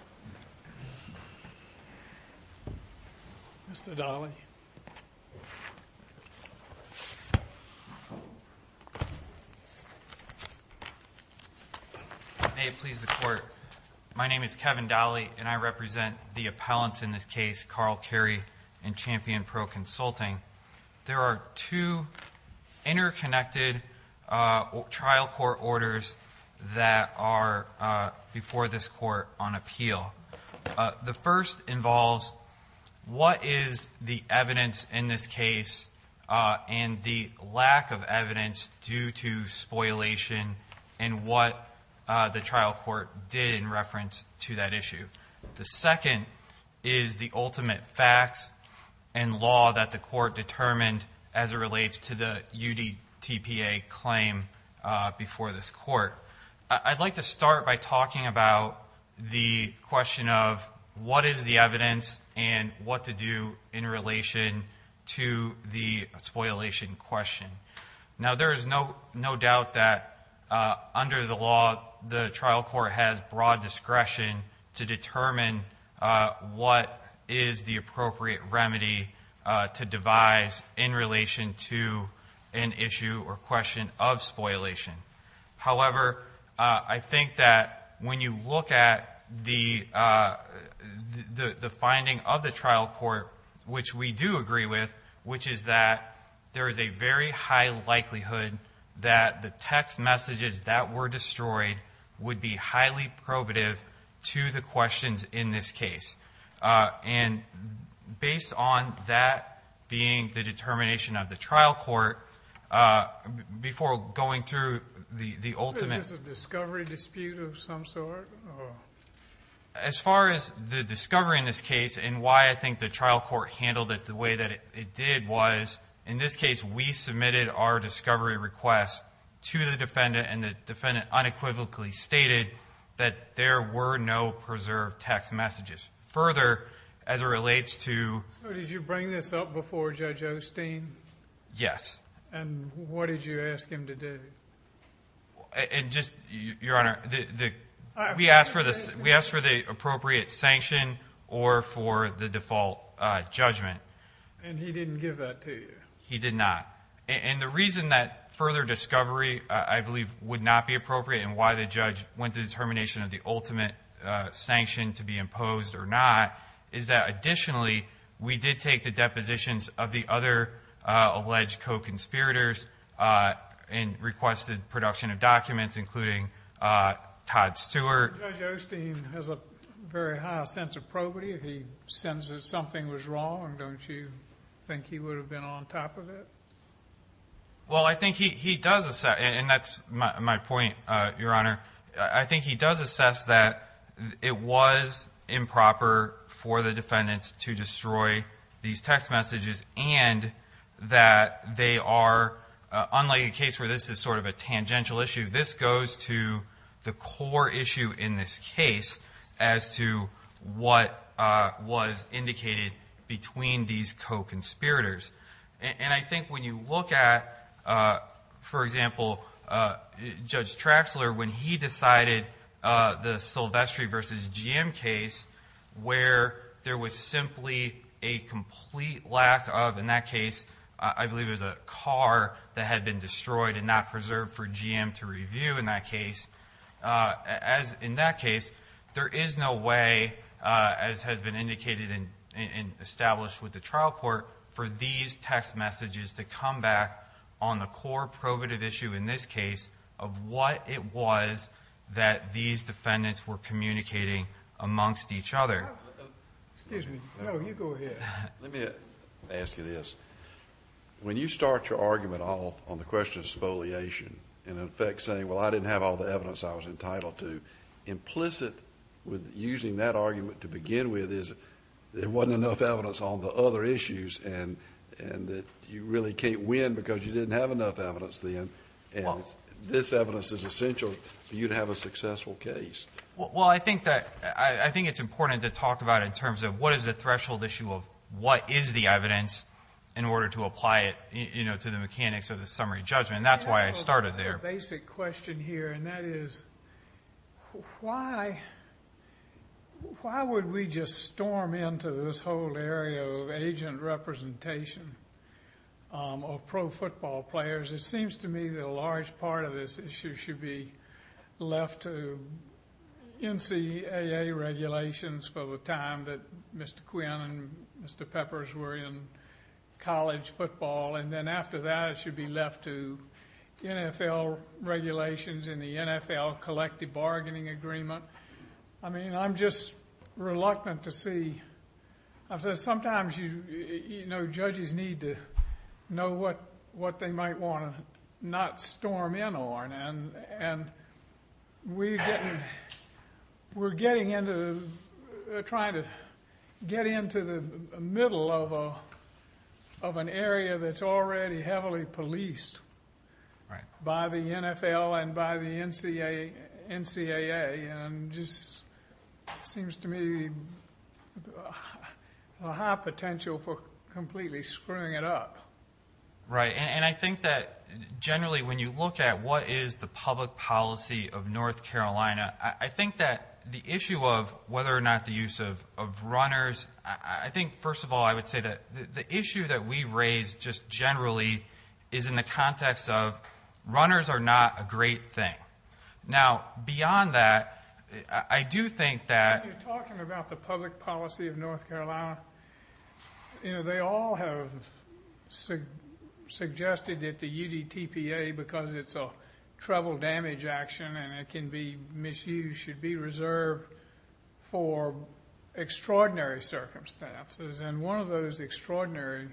May it please the Court, my name is Kevin Dolly and I represent the appellants in this case Carl Carey and Champion Pro Consulting. There are two interconnected trial court orders that are before this court on appeal. The first involves what is the evidence in this case and the lack of evidence due to spoliation and what the trial court did in reference to that issue. The second is the ultimate facts and law that the court determined as it relates to the UDTPA claim before this court. I'd like to start by talking about the question of what is the evidence and what to do in relation to the spoliation question. Now, there is no doubt that under the law the trial court has broad discretion to determine what is the appropriate remedy to devise in relation to an issue or question of spoliation. However, I think that when you look at the finding of the trial court, which we do agree with, which is that there is a very high likelihood that the text messages that were destroyed would be highly probative to the questions in this case. And based on that being the determination of the trial court, before going through the ultimate Is this a discovery dispute of some sort? As far as the discovery in this case and why I think the trial court handled it the way that it did was, in this case we submitted our discovery request to the defendant and the defendant unequivocally stated that there were no preserved text messages. Further, as it relates to So did you bring this up before Judge Osteen? Yes. And what did you ask him to do? Your Honor, we asked for the appropriate sanction or for the default judgment. And he didn't give that to you? He did not. And the reason that further discovery I believe would not be appropriate and why the judge went to determination of the ultimate sanction to be imposed or not is that additionally we did take the depositions of the other alleged co-conspirators and requested production of documents including Todd Stewart. Judge Osteen has a very high sense of probity. He senses something was wrong. Don't you think he would have been on top of it? Well, I think he does assess, and that's my point, Your Honor. I think he does assess that it was improper for the defendants to destroy these text messages and that they are, unlike a case where this is sort of a tangential issue, this goes to the core issue in this case as to what was indicated between these co-conspirators. And I think when you look at, for example, Judge Traxler, when he decided the Silvestri v. GM case where there was simply a complete lack of, in that case, I believe it was a car that had been destroyed and not preserved for GM to review in that case. As in that case, there is no way, as has been indicated and established with the trial court, for these text messages to come back on the core probative issue in this case of what it was that these defendants were communicating amongst each other. Excuse me. No, you go ahead. Let me ask you this. When you start your argument off on the question of spoliation and, in effect, saying, well, I didn't have all the evidence I was entitled to, implicit with using that argument to begin with is there wasn't enough evidence on the other issues and that you really can't win because you didn't have enough evidence then, and this evidence is essential for you to have a successful case. Well, I think it's important to talk about in terms of what is the threshold issue of what is the evidence in order to apply it to the mechanics of the summary judgment. That's why I started there. I have a basic question here, and that is, why would we just storm into this whole area of agent representation of pro football players? It seems to me that a large part of this issue should be left to NCAA regulations for the time that Mr. Quinn and Mr. Peppers were in college football, and then after that it should be left to NFL regulations and the NFL collective bargaining agreement. I mean, I'm just reluctant to see. Sometimes, you know, judges need to know what they might want to not storm in on, and we're trying to get into the middle of an area that's already heavily policed by the NFL and by the NCAA, and it just seems to me a high potential for completely screwing it up. Right, and I think that generally when you look at what is the public policy of North Carolina, I think that the issue of whether or not the use of runners, I think, first of all, I would say that the issue that we raise just generally is in the context of runners are not a great thing. Now, beyond that, I do think that... When you're talking about the public policy of North Carolina, you know, they all have suggested that the UDTPA, because it's a treble damage action and it can be misused, should be reserved for extraordinary circumstances, and one of those extraordinary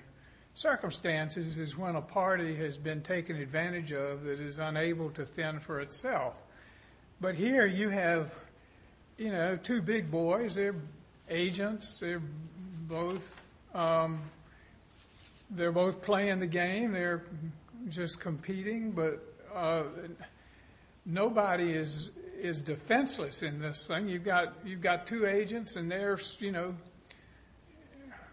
circumstances is when a party has been taken advantage of that is unable to thin for itself. But here you have, you know, two big boys. They're agents. They're both playing the game. They're just competing, but nobody is defenseless in this thing. You've got two agents, and they're, you know,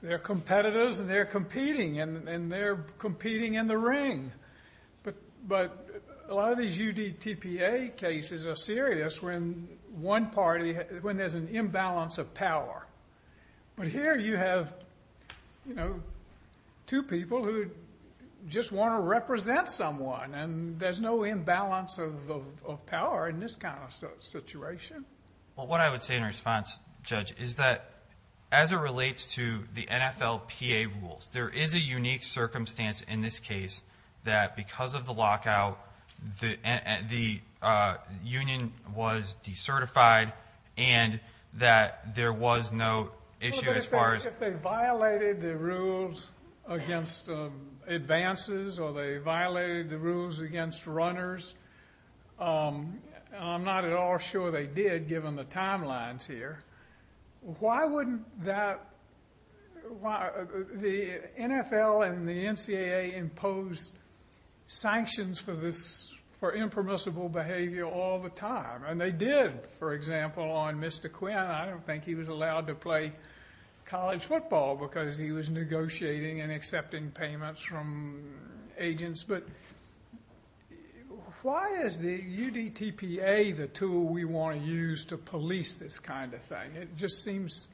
they're competitors, and they're competing, and they're competing in the ring. But a lot of these UDTPA cases are serious when one party, when there's an imbalance of power. But here you have, you know, two people who just want to represent someone, and there's no imbalance of power in this kind of situation. Well, what I would say in response, Judge, is that as it relates to the NFLPA rules, there is a unique circumstance in this case that because of the lockout, the union was decertified and that there was no issue as far as... Well, but if they violated the rules against advances or they violated the rules against runners, I'm not at all sure they did given the timelines here. Why wouldn't that... The NFL and the NCAA impose sanctions for this, for impermissible behavior all the time, and they did, for example, on Mr. Quinn. I don't think he was allowed to play college football because he was negotiating and accepting payments from agents. But why is the UDTPA the tool we want to use to police this kind of thing? It just seems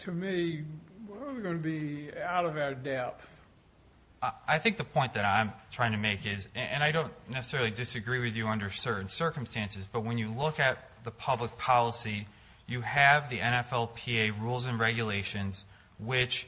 to me we're going to be out of our depth. I think the point that I'm trying to make is, and I don't necessarily disagree with you under certain circumstances, but when you look at the public policy, you have the NFLPA rules and regulations, which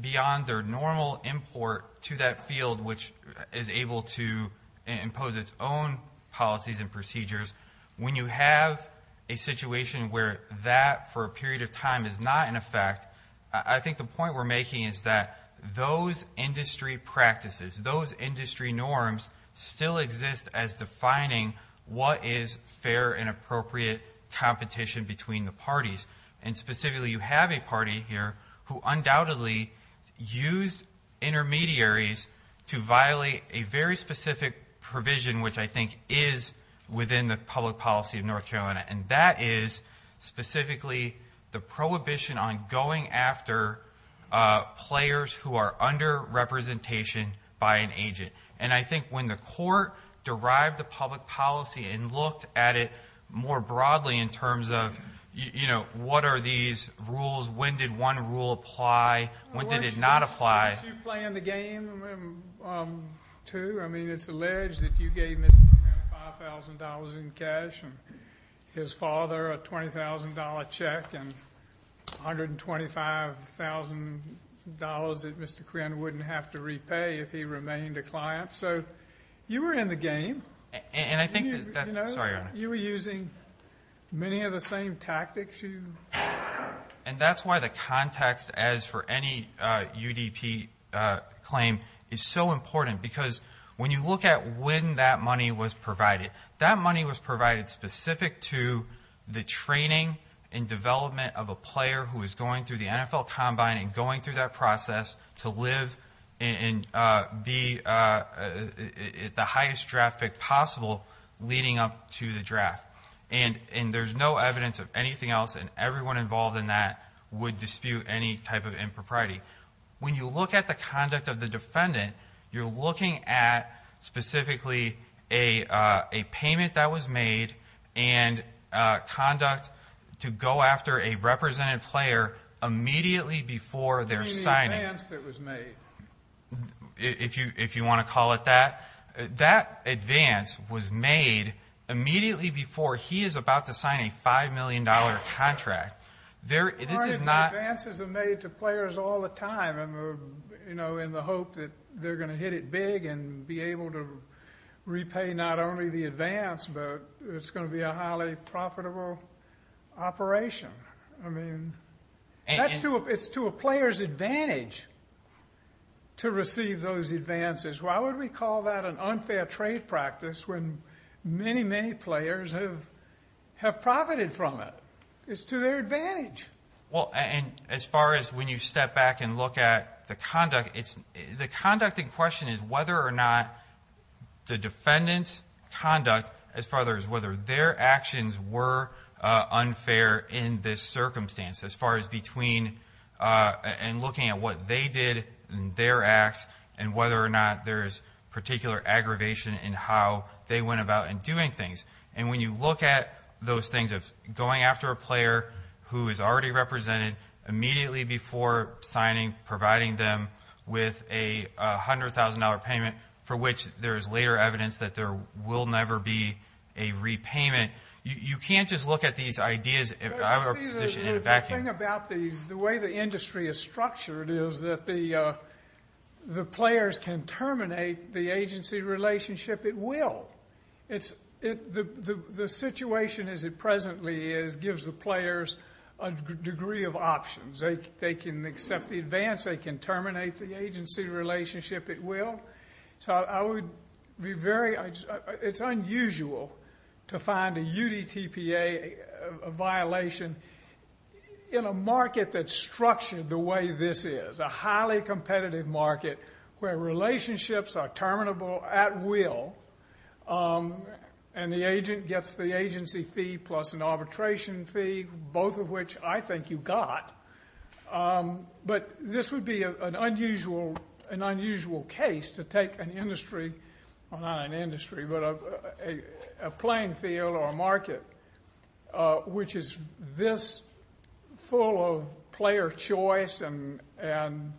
beyond their normal import to that field, which is able to impose its own policies and procedures, when you have a situation where that for a period of time is not in effect, I think the point we're making is that those industry practices, those industry norms still exist as defining what is fair and appropriate competition between the parties. And specifically, you have a party here who undoubtedly used intermediaries to violate a very specific provision, which I think is within the public policy of North Carolina, and that is specifically the prohibition on going after players who are under representation by an agent. And I think when the court derived the public policy and looked at it more broadly in terms of, you know, what are these rules, when did one rule apply, when did it not apply? I want you to play in the game, too. I mean, it's alleged that you gave Mr. Quinn $5,000 in cash and his father a $20,000 check and $125,000 that Mr. Quinn wouldn't have to repay if he remained a client. So you were in the game. Sorry, Your Honor. You were using many of the same tactics. And that's why the context, as for any UDP claim, is so important because when you look at when that money was provided, that money was provided specific to the training and development of a player who is going through the NFL Combine and going through that process to live and be at the highest draft pick possible leading up to the draft. And there's no evidence of anything else, and everyone involved in that would dispute any type of impropriety. When you look at the conduct of the defendant, you're looking at specifically a payment that was made and conduct to go after a represented player immediately before their signing. You mean the advance that was made? If you want to call it that. That advance was made immediately before he is about to sign a $5 million contract. This is not— Aren't the advances made to players all the time in the hope that they're going to hit it big and be able to repay not only the advance, but it's going to be a highly profitable operation. I mean, it's to a player's advantage to receive those advances. Why would we call that an unfair trade practice when many, many players have profited from it? It's to their advantage. Well, and as far as when you step back and look at the conduct, the conduct in question is whether or not the defendant's conduct, as far as whether their actions were unfair in this circumstance, as far as between and looking at what they did in their acts and whether or not there's particular aggravation in how they went about in doing things. And when you look at those things of going after a player who is already represented immediately before signing, providing them with a $100,000 payment for which there is later evidence that there will never be a repayment, you can't just look at these ideas of a position in a vacuum. The thing about these, the way the industry is structured, is that the players can terminate the agency relationship. It will. The situation as it presently is gives the players a degree of options. They can accept the advance. They can terminate the agency relationship. It will. So I would be very, it's unusual to find a UDTPA violation in a market that's structured the way this is, a highly competitive market where relationships are terminable at will and the agent gets the agency fee plus an arbitration fee, both of which I think you got. But this would be an unusual case to take an industry, well not an industry but a playing field or a market which is this full of player choice and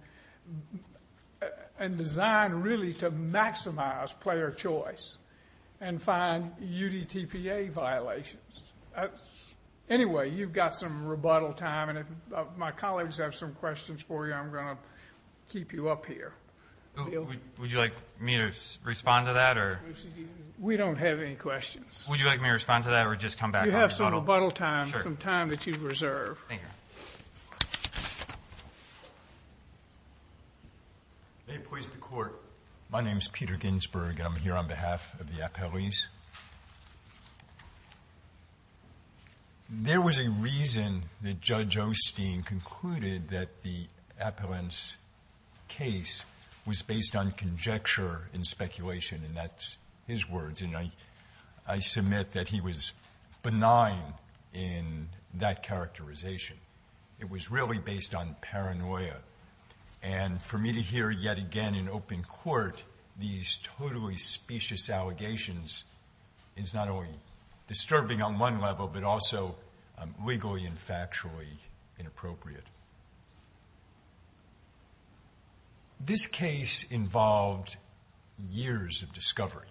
designed really to maximize player choice and find UDTPA violations. Anyway, you've got some rebuttal time, and if my colleagues have some questions for you, I'm going to keep you up here. Would you like me to respond to that? We don't have any questions. Would you like me to respond to that or just come back? You have some rebuttal time, some time that you've reserved. Thank you. May it please the Court. My name is Peter Ginsberg. I'm here on behalf of the appellees. There was a reason that Judge Osteen concluded that the appellant's case was based on conjecture and speculation, and that's his words. And I submit that he was benign in that characterization. It was really based on paranoia. And for me to hear yet again in open court these totally specious allegations is not only disturbing on one level but also legally and factually inappropriate. This case involved years of discovery.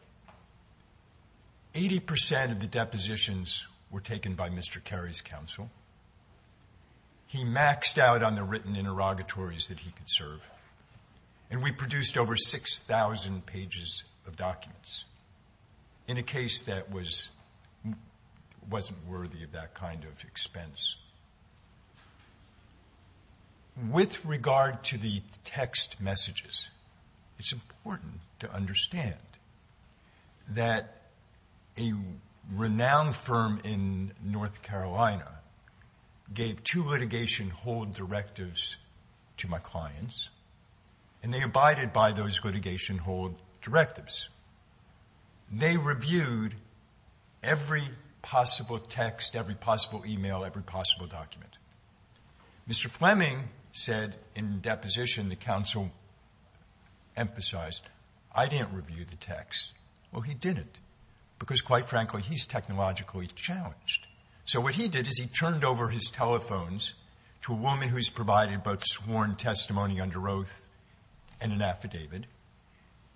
Eighty percent of the depositions were taken by Mr. Carey's counsel. He maxed out on the written interrogatories that he could serve, and we produced over 6,000 pages of documents in a case that wasn't worthy of that kind of expense. With regard to the text messages, it's important to understand that a renowned firm in North Carolina gave two litigation hold directives to my clients, and they abided by those litigation hold directives. They reviewed every possible text, every possible email, every possible document. Mr. Fleming said in deposition, the counsel emphasized, I didn't review the text. Well, he didn't because, quite frankly, he's technologically challenged. So what he did is he turned over his telephones to a woman who's provided both sworn testimony under oath and an affidavit.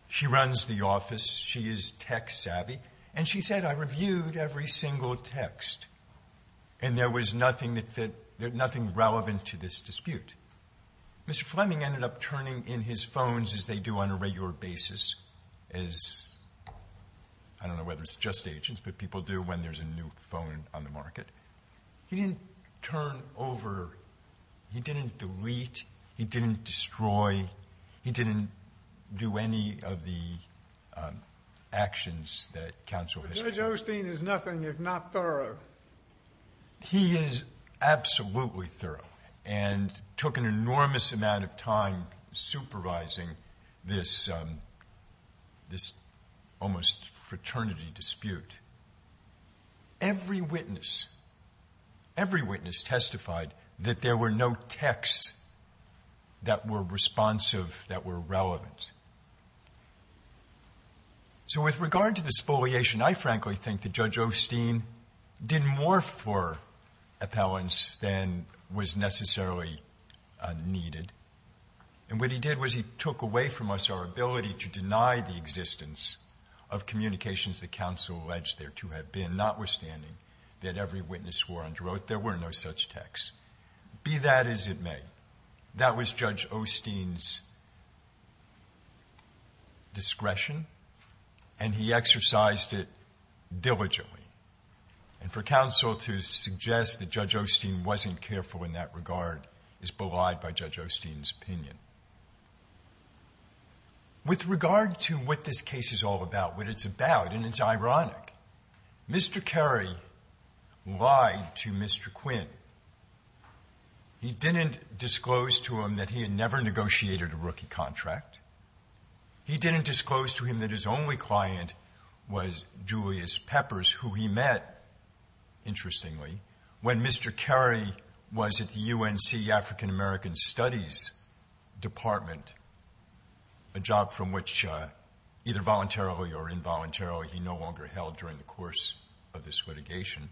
She runs the office. She is tech savvy. And she said, I reviewed every single text, and there was nothing that fit, nothing relevant to this dispute. Mr. Fleming ended up turning in his phones as they do on a regular basis, as I don't know whether it's just agents, but people do when there's a new phone on the market. He didn't turn over, he didn't delete, he didn't destroy, he didn't do any of the actions that counsel has shown. But Judge Osteen is nothing if not thorough. He is absolutely thorough and took an enormous amount of time supervising this almost fraternity dispute. Every witness, every witness testified that there were no texts that were responsive, that were relevant. So with regard to the spoliation, I frankly think that Judge Osteen did more for appellants than was necessarily needed. And what he did was he took away from us our ability to deny the existence of communications that counsel alleged there to have been, notwithstanding that every witness swore under oath there were no such texts, be that as it may. That was Judge Osteen's discretion, and he exercised it diligently. And for counsel to suggest that Judge Osteen wasn't careful in that regard is belied by Judge Osteen's opinion. With regard to what this case is all about, what it's about, and it's ironic, Mr. Kerry lied to Mr. Quinn. He didn't disclose to him that he had never negotiated a rookie contract. He didn't disclose to him that his only client was Julius Peppers, who he met, interestingly, when Mr. Kerry was at the UNC African American Studies Department, a job from which either voluntarily or involuntarily he no longer held during the course of this litigation.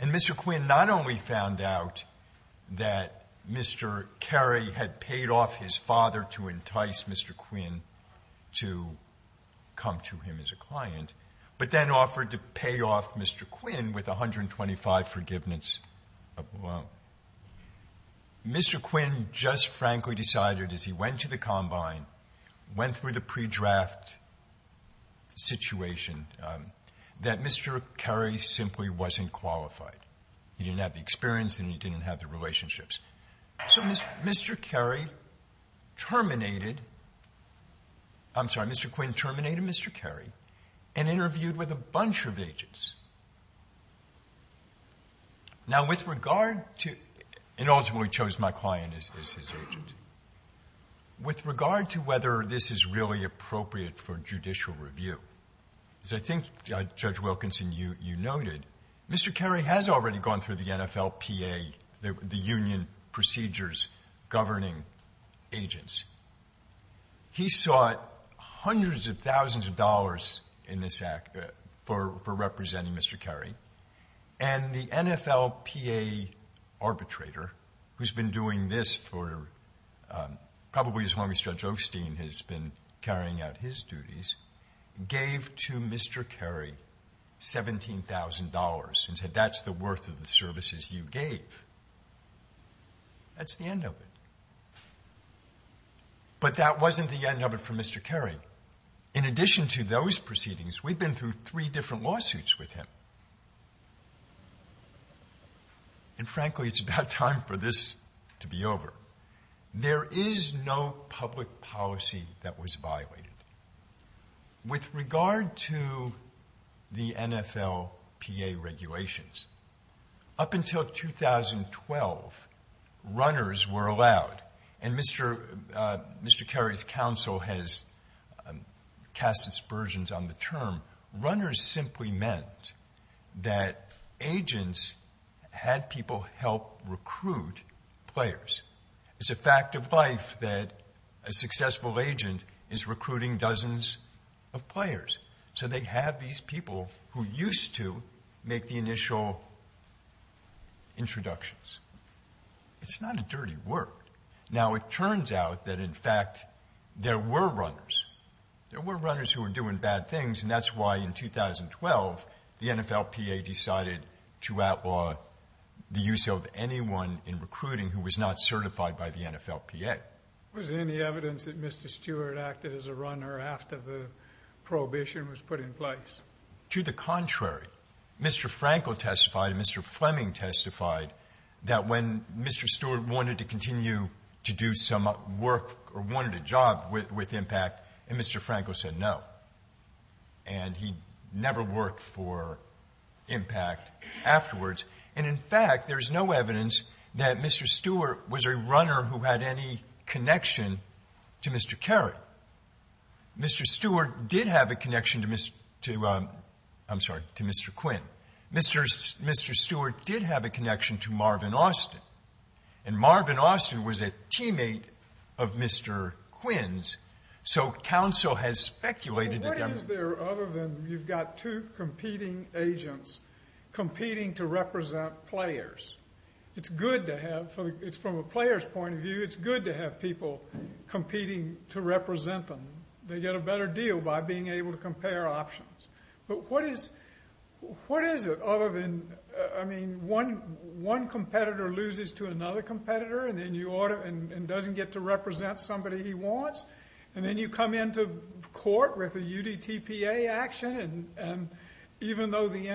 And Mr. Quinn not only found out that Mr. Kerry had paid off his father to entice Mr. Quinn to come to him as a client, but then offered to pay off Mr. Quinn with 125 forgiveness of loan. Mr. Quinn just frankly decided, as he went to the combine, went through the pre-draft situation, that Mr. Kerry simply wasn't qualified. He didn't have the experience and he didn't have the relationships. So Mr. Kerry terminated, I'm sorry, Mr. Quinn terminated Mr. Kerry and interviewed with a bunch of agents. Now, with regard to, and ultimately chose my client as his agent, with regard to whether this is really appropriate for judicial review, as I think Judge Wilkinson, you noted, Mr. Kerry has already gone through the NFLPA, the union procedures governing agents. He sought hundreds of thousands of dollars in this act for representing Mr. Kerry. And the NFLPA arbitrator, who's been doing this for probably as long as Judge Osteen has been carrying out his duties, gave to Mr. Kerry $17,000 and said that's the worth of the services you gave. That's the end of it. But that wasn't the end of it for Mr. Kerry. In addition to those proceedings, we've been through three different lawsuits with him. And frankly, it's about time for this to be over. There is no public policy that was violated. With regard to the NFLPA regulations, up until 2012, runners were allowed. And Mr. Kerry's counsel has cast aspersions on the term. Runners simply meant that agents had people help recruit players. It's a fact of life that a successful agent is recruiting dozens of players. So they have these people who used to make the initial introductions. It's not a dirty word. Now, it turns out that, in fact, there were runners. There were runners who were doing bad things, and that's why, in 2012, the NFLPA decided to outlaw the use of anyone in recruiting who was not certified by the NFLPA. Was there any evidence that Mr. Stewart acted as a runner after the prohibition was put in place? To the contrary. Mr. Frankel testified and Mr. Fleming testified that when Mr. Stewart wanted to continue to do some work or wanted a job with IMPACT, and Mr. Frankel said no. And he never worked for IMPACT afterwards. And, in fact, there is no evidence that Mr. Stewart was a runner who had any connection to Mr. Kerry. Mr. Stewart did have a connection to Mr. Quinn. Mr. Stewart did have a connection to Marvin Austin. And Marvin Austin was a teammate of Mr. Quinn's. So counsel has speculated that that was- What is there other than you've got two competing agents competing to represent players? It's good to have, from a player's point of view, it's good to have people competing to represent them. They get a better deal by being able to compare options. But what is it other than, I mean, one competitor loses to another competitor and doesn't get to represent somebody he wants? And then you come into court with a UDTPA action, and even though the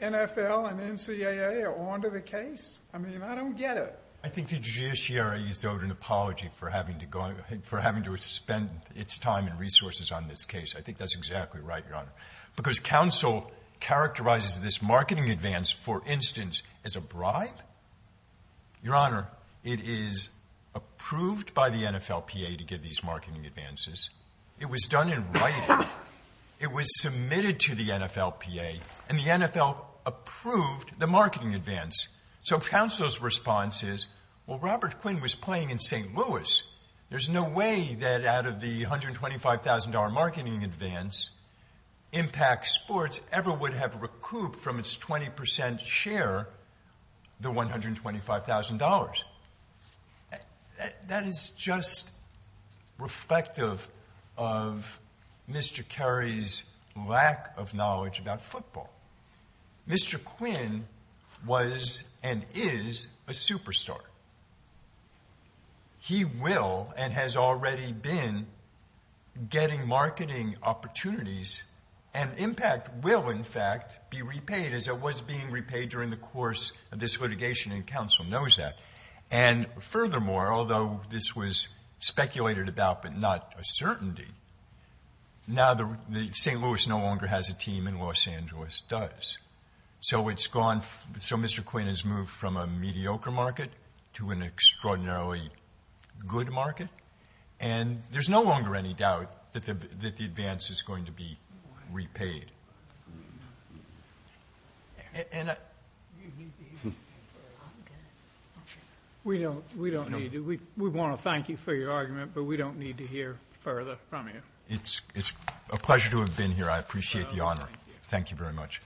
NFL and NCAA are on to the case, I mean, I don't get it. I think the judiciary is owed an apology for having to spend its time and resources on this case. I think that's exactly right, Your Honor, because counsel characterizes this marketing advance, for instance, as a bribe? Your Honor, it is approved by the NFLPA to give these marketing advances. It was done in writing. It was submitted to the NFLPA, and the NFL approved the marketing advance. So counsel's response is, well, Robert Quinn was playing in St. Louis. There's no way that out of the $125,000 marketing advance, Impact Sports ever would have recouped from its 20% share the $125,000. That is just reflective of Mr. Kerry's lack of knowledge about football. Mr. Quinn was and is a superstar. He will and has already been getting marketing opportunities, and Impact will, in fact, be repaid as it was being repaid during the course of this litigation, and counsel knows that. And furthermore, although this was speculated about but not a certainty, now the St. Louis no longer has a team and Los Angeles does. So it's gone. So Mr. Quinn has moved from a mediocre market to an extraordinarily good market, and there's no longer any doubt that the advance is going to be repaid. We want to thank you for your argument, but we don't need to hear further from you. It's a pleasure to have been here. I appreciate the honor. Thank you very much.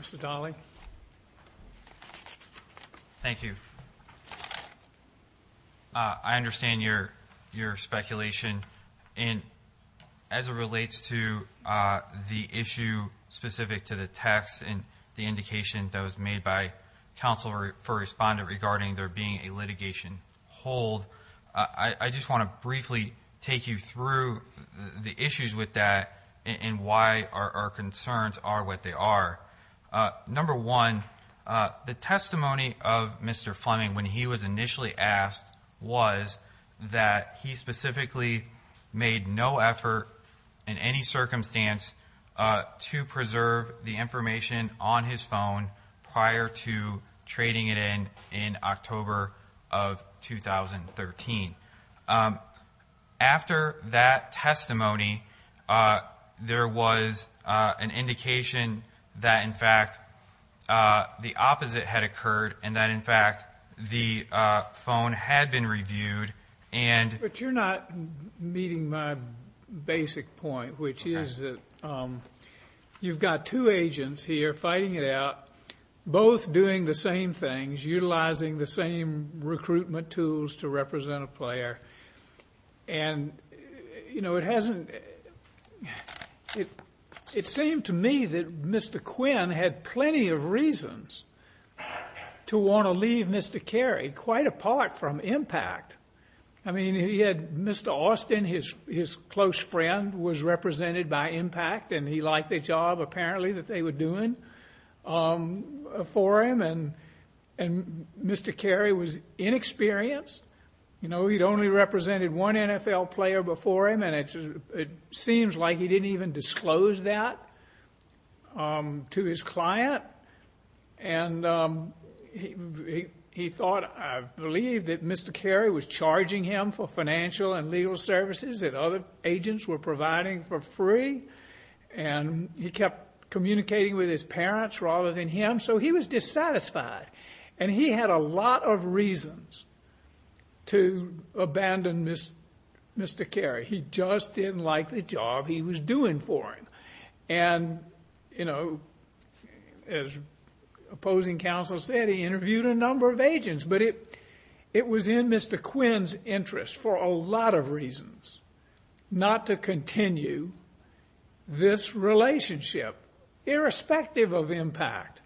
Mr. Dolly. Thank you. I understand your speculation, and as it relates to the issue specific to the text and the indication that was made by counsel for respondent regarding there being a litigation hold, I just want to briefly take you through the issues with that and why our concerns are what they are. Number one, the testimony of Mr. Fleming, when he was initially asked, was that he specifically made no effort in any circumstance to preserve the information on his phone prior to trading it in in October of 2013. After that testimony, there was an indication that, in fact, the opposite had occurred and that, in fact, the phone had been reviewed. But you're not meeting my basic point, which is that you've got two agents here fighting it out, both doing the same things, utilizing the same recruitment tools to represent a player, and it seemed to me that Mr. Quinn had plenty of reasons to want to leave Mr. Cary quite apart from Impact. I mean, he had Mr. Austin, his close friend, was represented by Impact, and he liked the job, apparently, that they were doing for him, and Mr. Cary was inexperienced. You know, he'd only represented one NFL player before him, and it seems like he didn't even disclose that to his client. And he thought, I believe, that Mr. Cary was charging him for financial and legal services that other agents were providing for free, and he kept communicating with his parents rather than him, so he was dissatisfied, and he had a lot of reasons to abandon Mr. Cary. He just didn't like the job he was doing for him. And, you know, as opposing counsel said, he interviewed a number of agents, but it was in Mr. Quinn's interest for a lot of reasons not to continue this relationship, irrespective of Impact.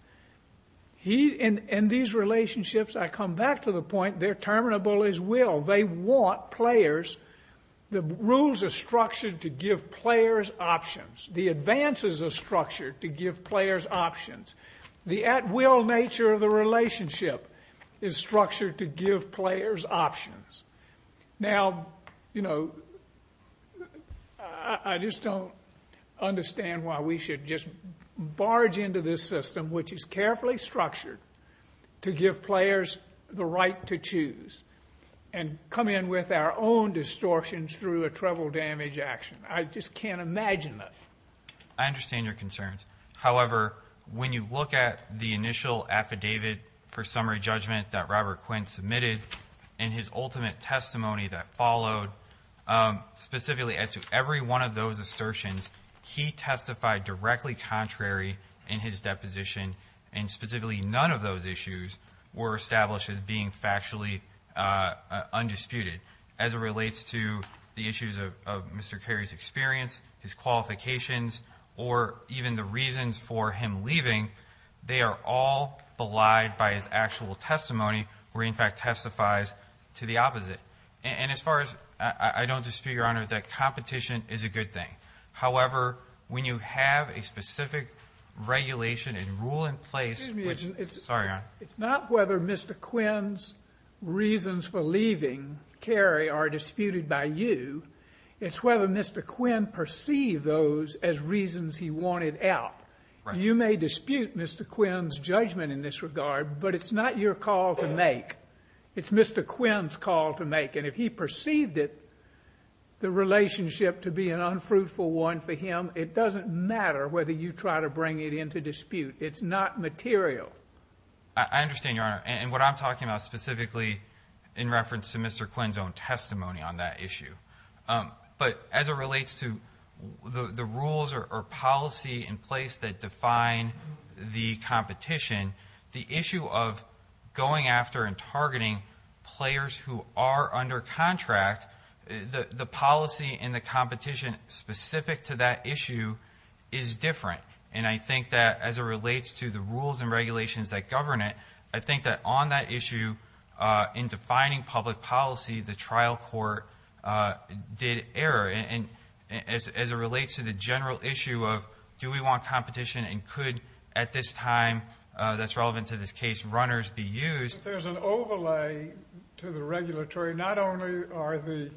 And these relationships, I come back to the point, they're terminable as will. They want players. The rules are structured to give players options. The advances are structured to give players options. The at-will nature of the relationship is structured to give players options. Now, you know, I just don't understand why we should just barge into this system, which is carefully structured to give players the right to choose, and come in with our own distortions through a treble damage action. I just can't imagine that. I understand your concerns. However, when you look at the initial affidavit for summary judgment that Robert Quinn submitted and his ultimate testimony that followed, specifically as to every one of those assertions, he testified directly contrary in his deposition, and specifically none of those issues were established as being factually undisputed as it relates to the issues of Mr. Carey's experience, his qualifications, or even the reasons for him leaving, they are all belied by his actual testimony, where he, in fact, testifies to the opposite. And as far as I don't dispute, Your Honor, that competition is a good thing. However, when you have a specific regulation and rule in place, which, sorry, Your Honor. It's not whether Mr. Quinn's reasons for leaving Carey are disputed by you. It's whether Mr. Quinn perceived those as reasons he wanted out. You may dispute Mr. Quinn's judgment in this regard, but it's not your call to make. It's Mr. Quinn's call to make. And if he perceived it, the relationship to be an unfruitful one for him, it doesn't matter whether you try to bring it into dispute. It's not material. I understand, Your Honor. And what I'm talking about specifically in reference to Mr. Quinn's own testimony on that issue. But as it relates to the rules or policy in place that define the competition, the issue of going after and targeting players who are under contract, the policy and the competition specific to that issue is different. And I think that as it relates to the rules and regulations that govern it, I think that on that issue in defining public policy, the trial court did error. And as it relates to the general issue of do we want competition and could at this time that's relevant to this case runners be used. There's an overlay to the regulatory. Not only are the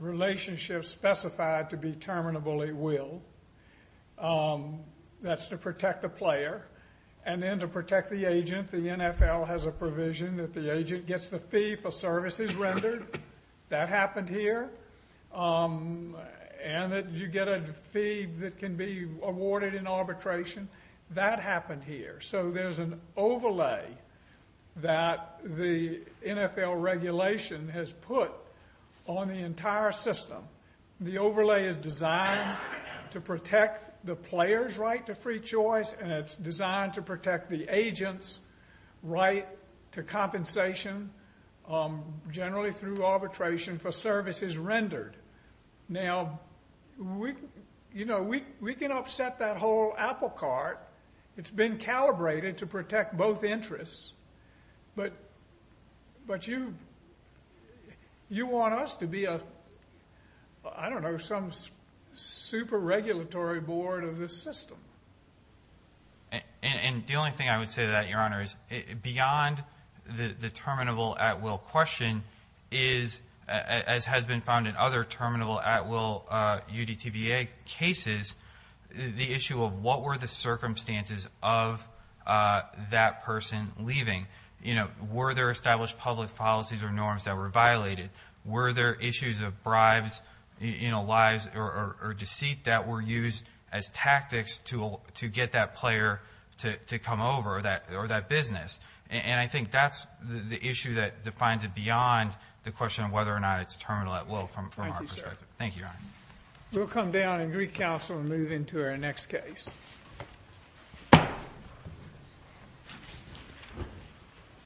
relationships specified to be terminably willed. That's to protect the player. And then to protect the agent. The NFL has a provision that the agent gets the fee for services rendered. That happened here. And that you get a fee that can be awarded in arbitration. That happened here. So there's an overlay that the NFL regulation has put on the entire system. The overlay is designed to protect the player's right to free choice and it's designed to protect the agent's right to compensation, generally through arbitration, for services rendered. Now, we can upset that whole apple cart. It's been calibrated to protect both interests. But you want us to be a, I don't know, some super regulatory board of the system. And the only thing I would say to that, Your Honor, is beyond the terminable at will question is, as has been found in other terminable at will UDTBA cases, the issue of what were the circumstances of that person leaving. Were there established public policies or norms that were violated? Were there issues of bribes, lies, or deceit that were used as tactics to get that player to come over or that business? And I think that's the issue that defines it beyond the question of whether or not it's terminable at will from our perspective. Thank you, Your Honor. We'll come down and recounsel and move into our next case.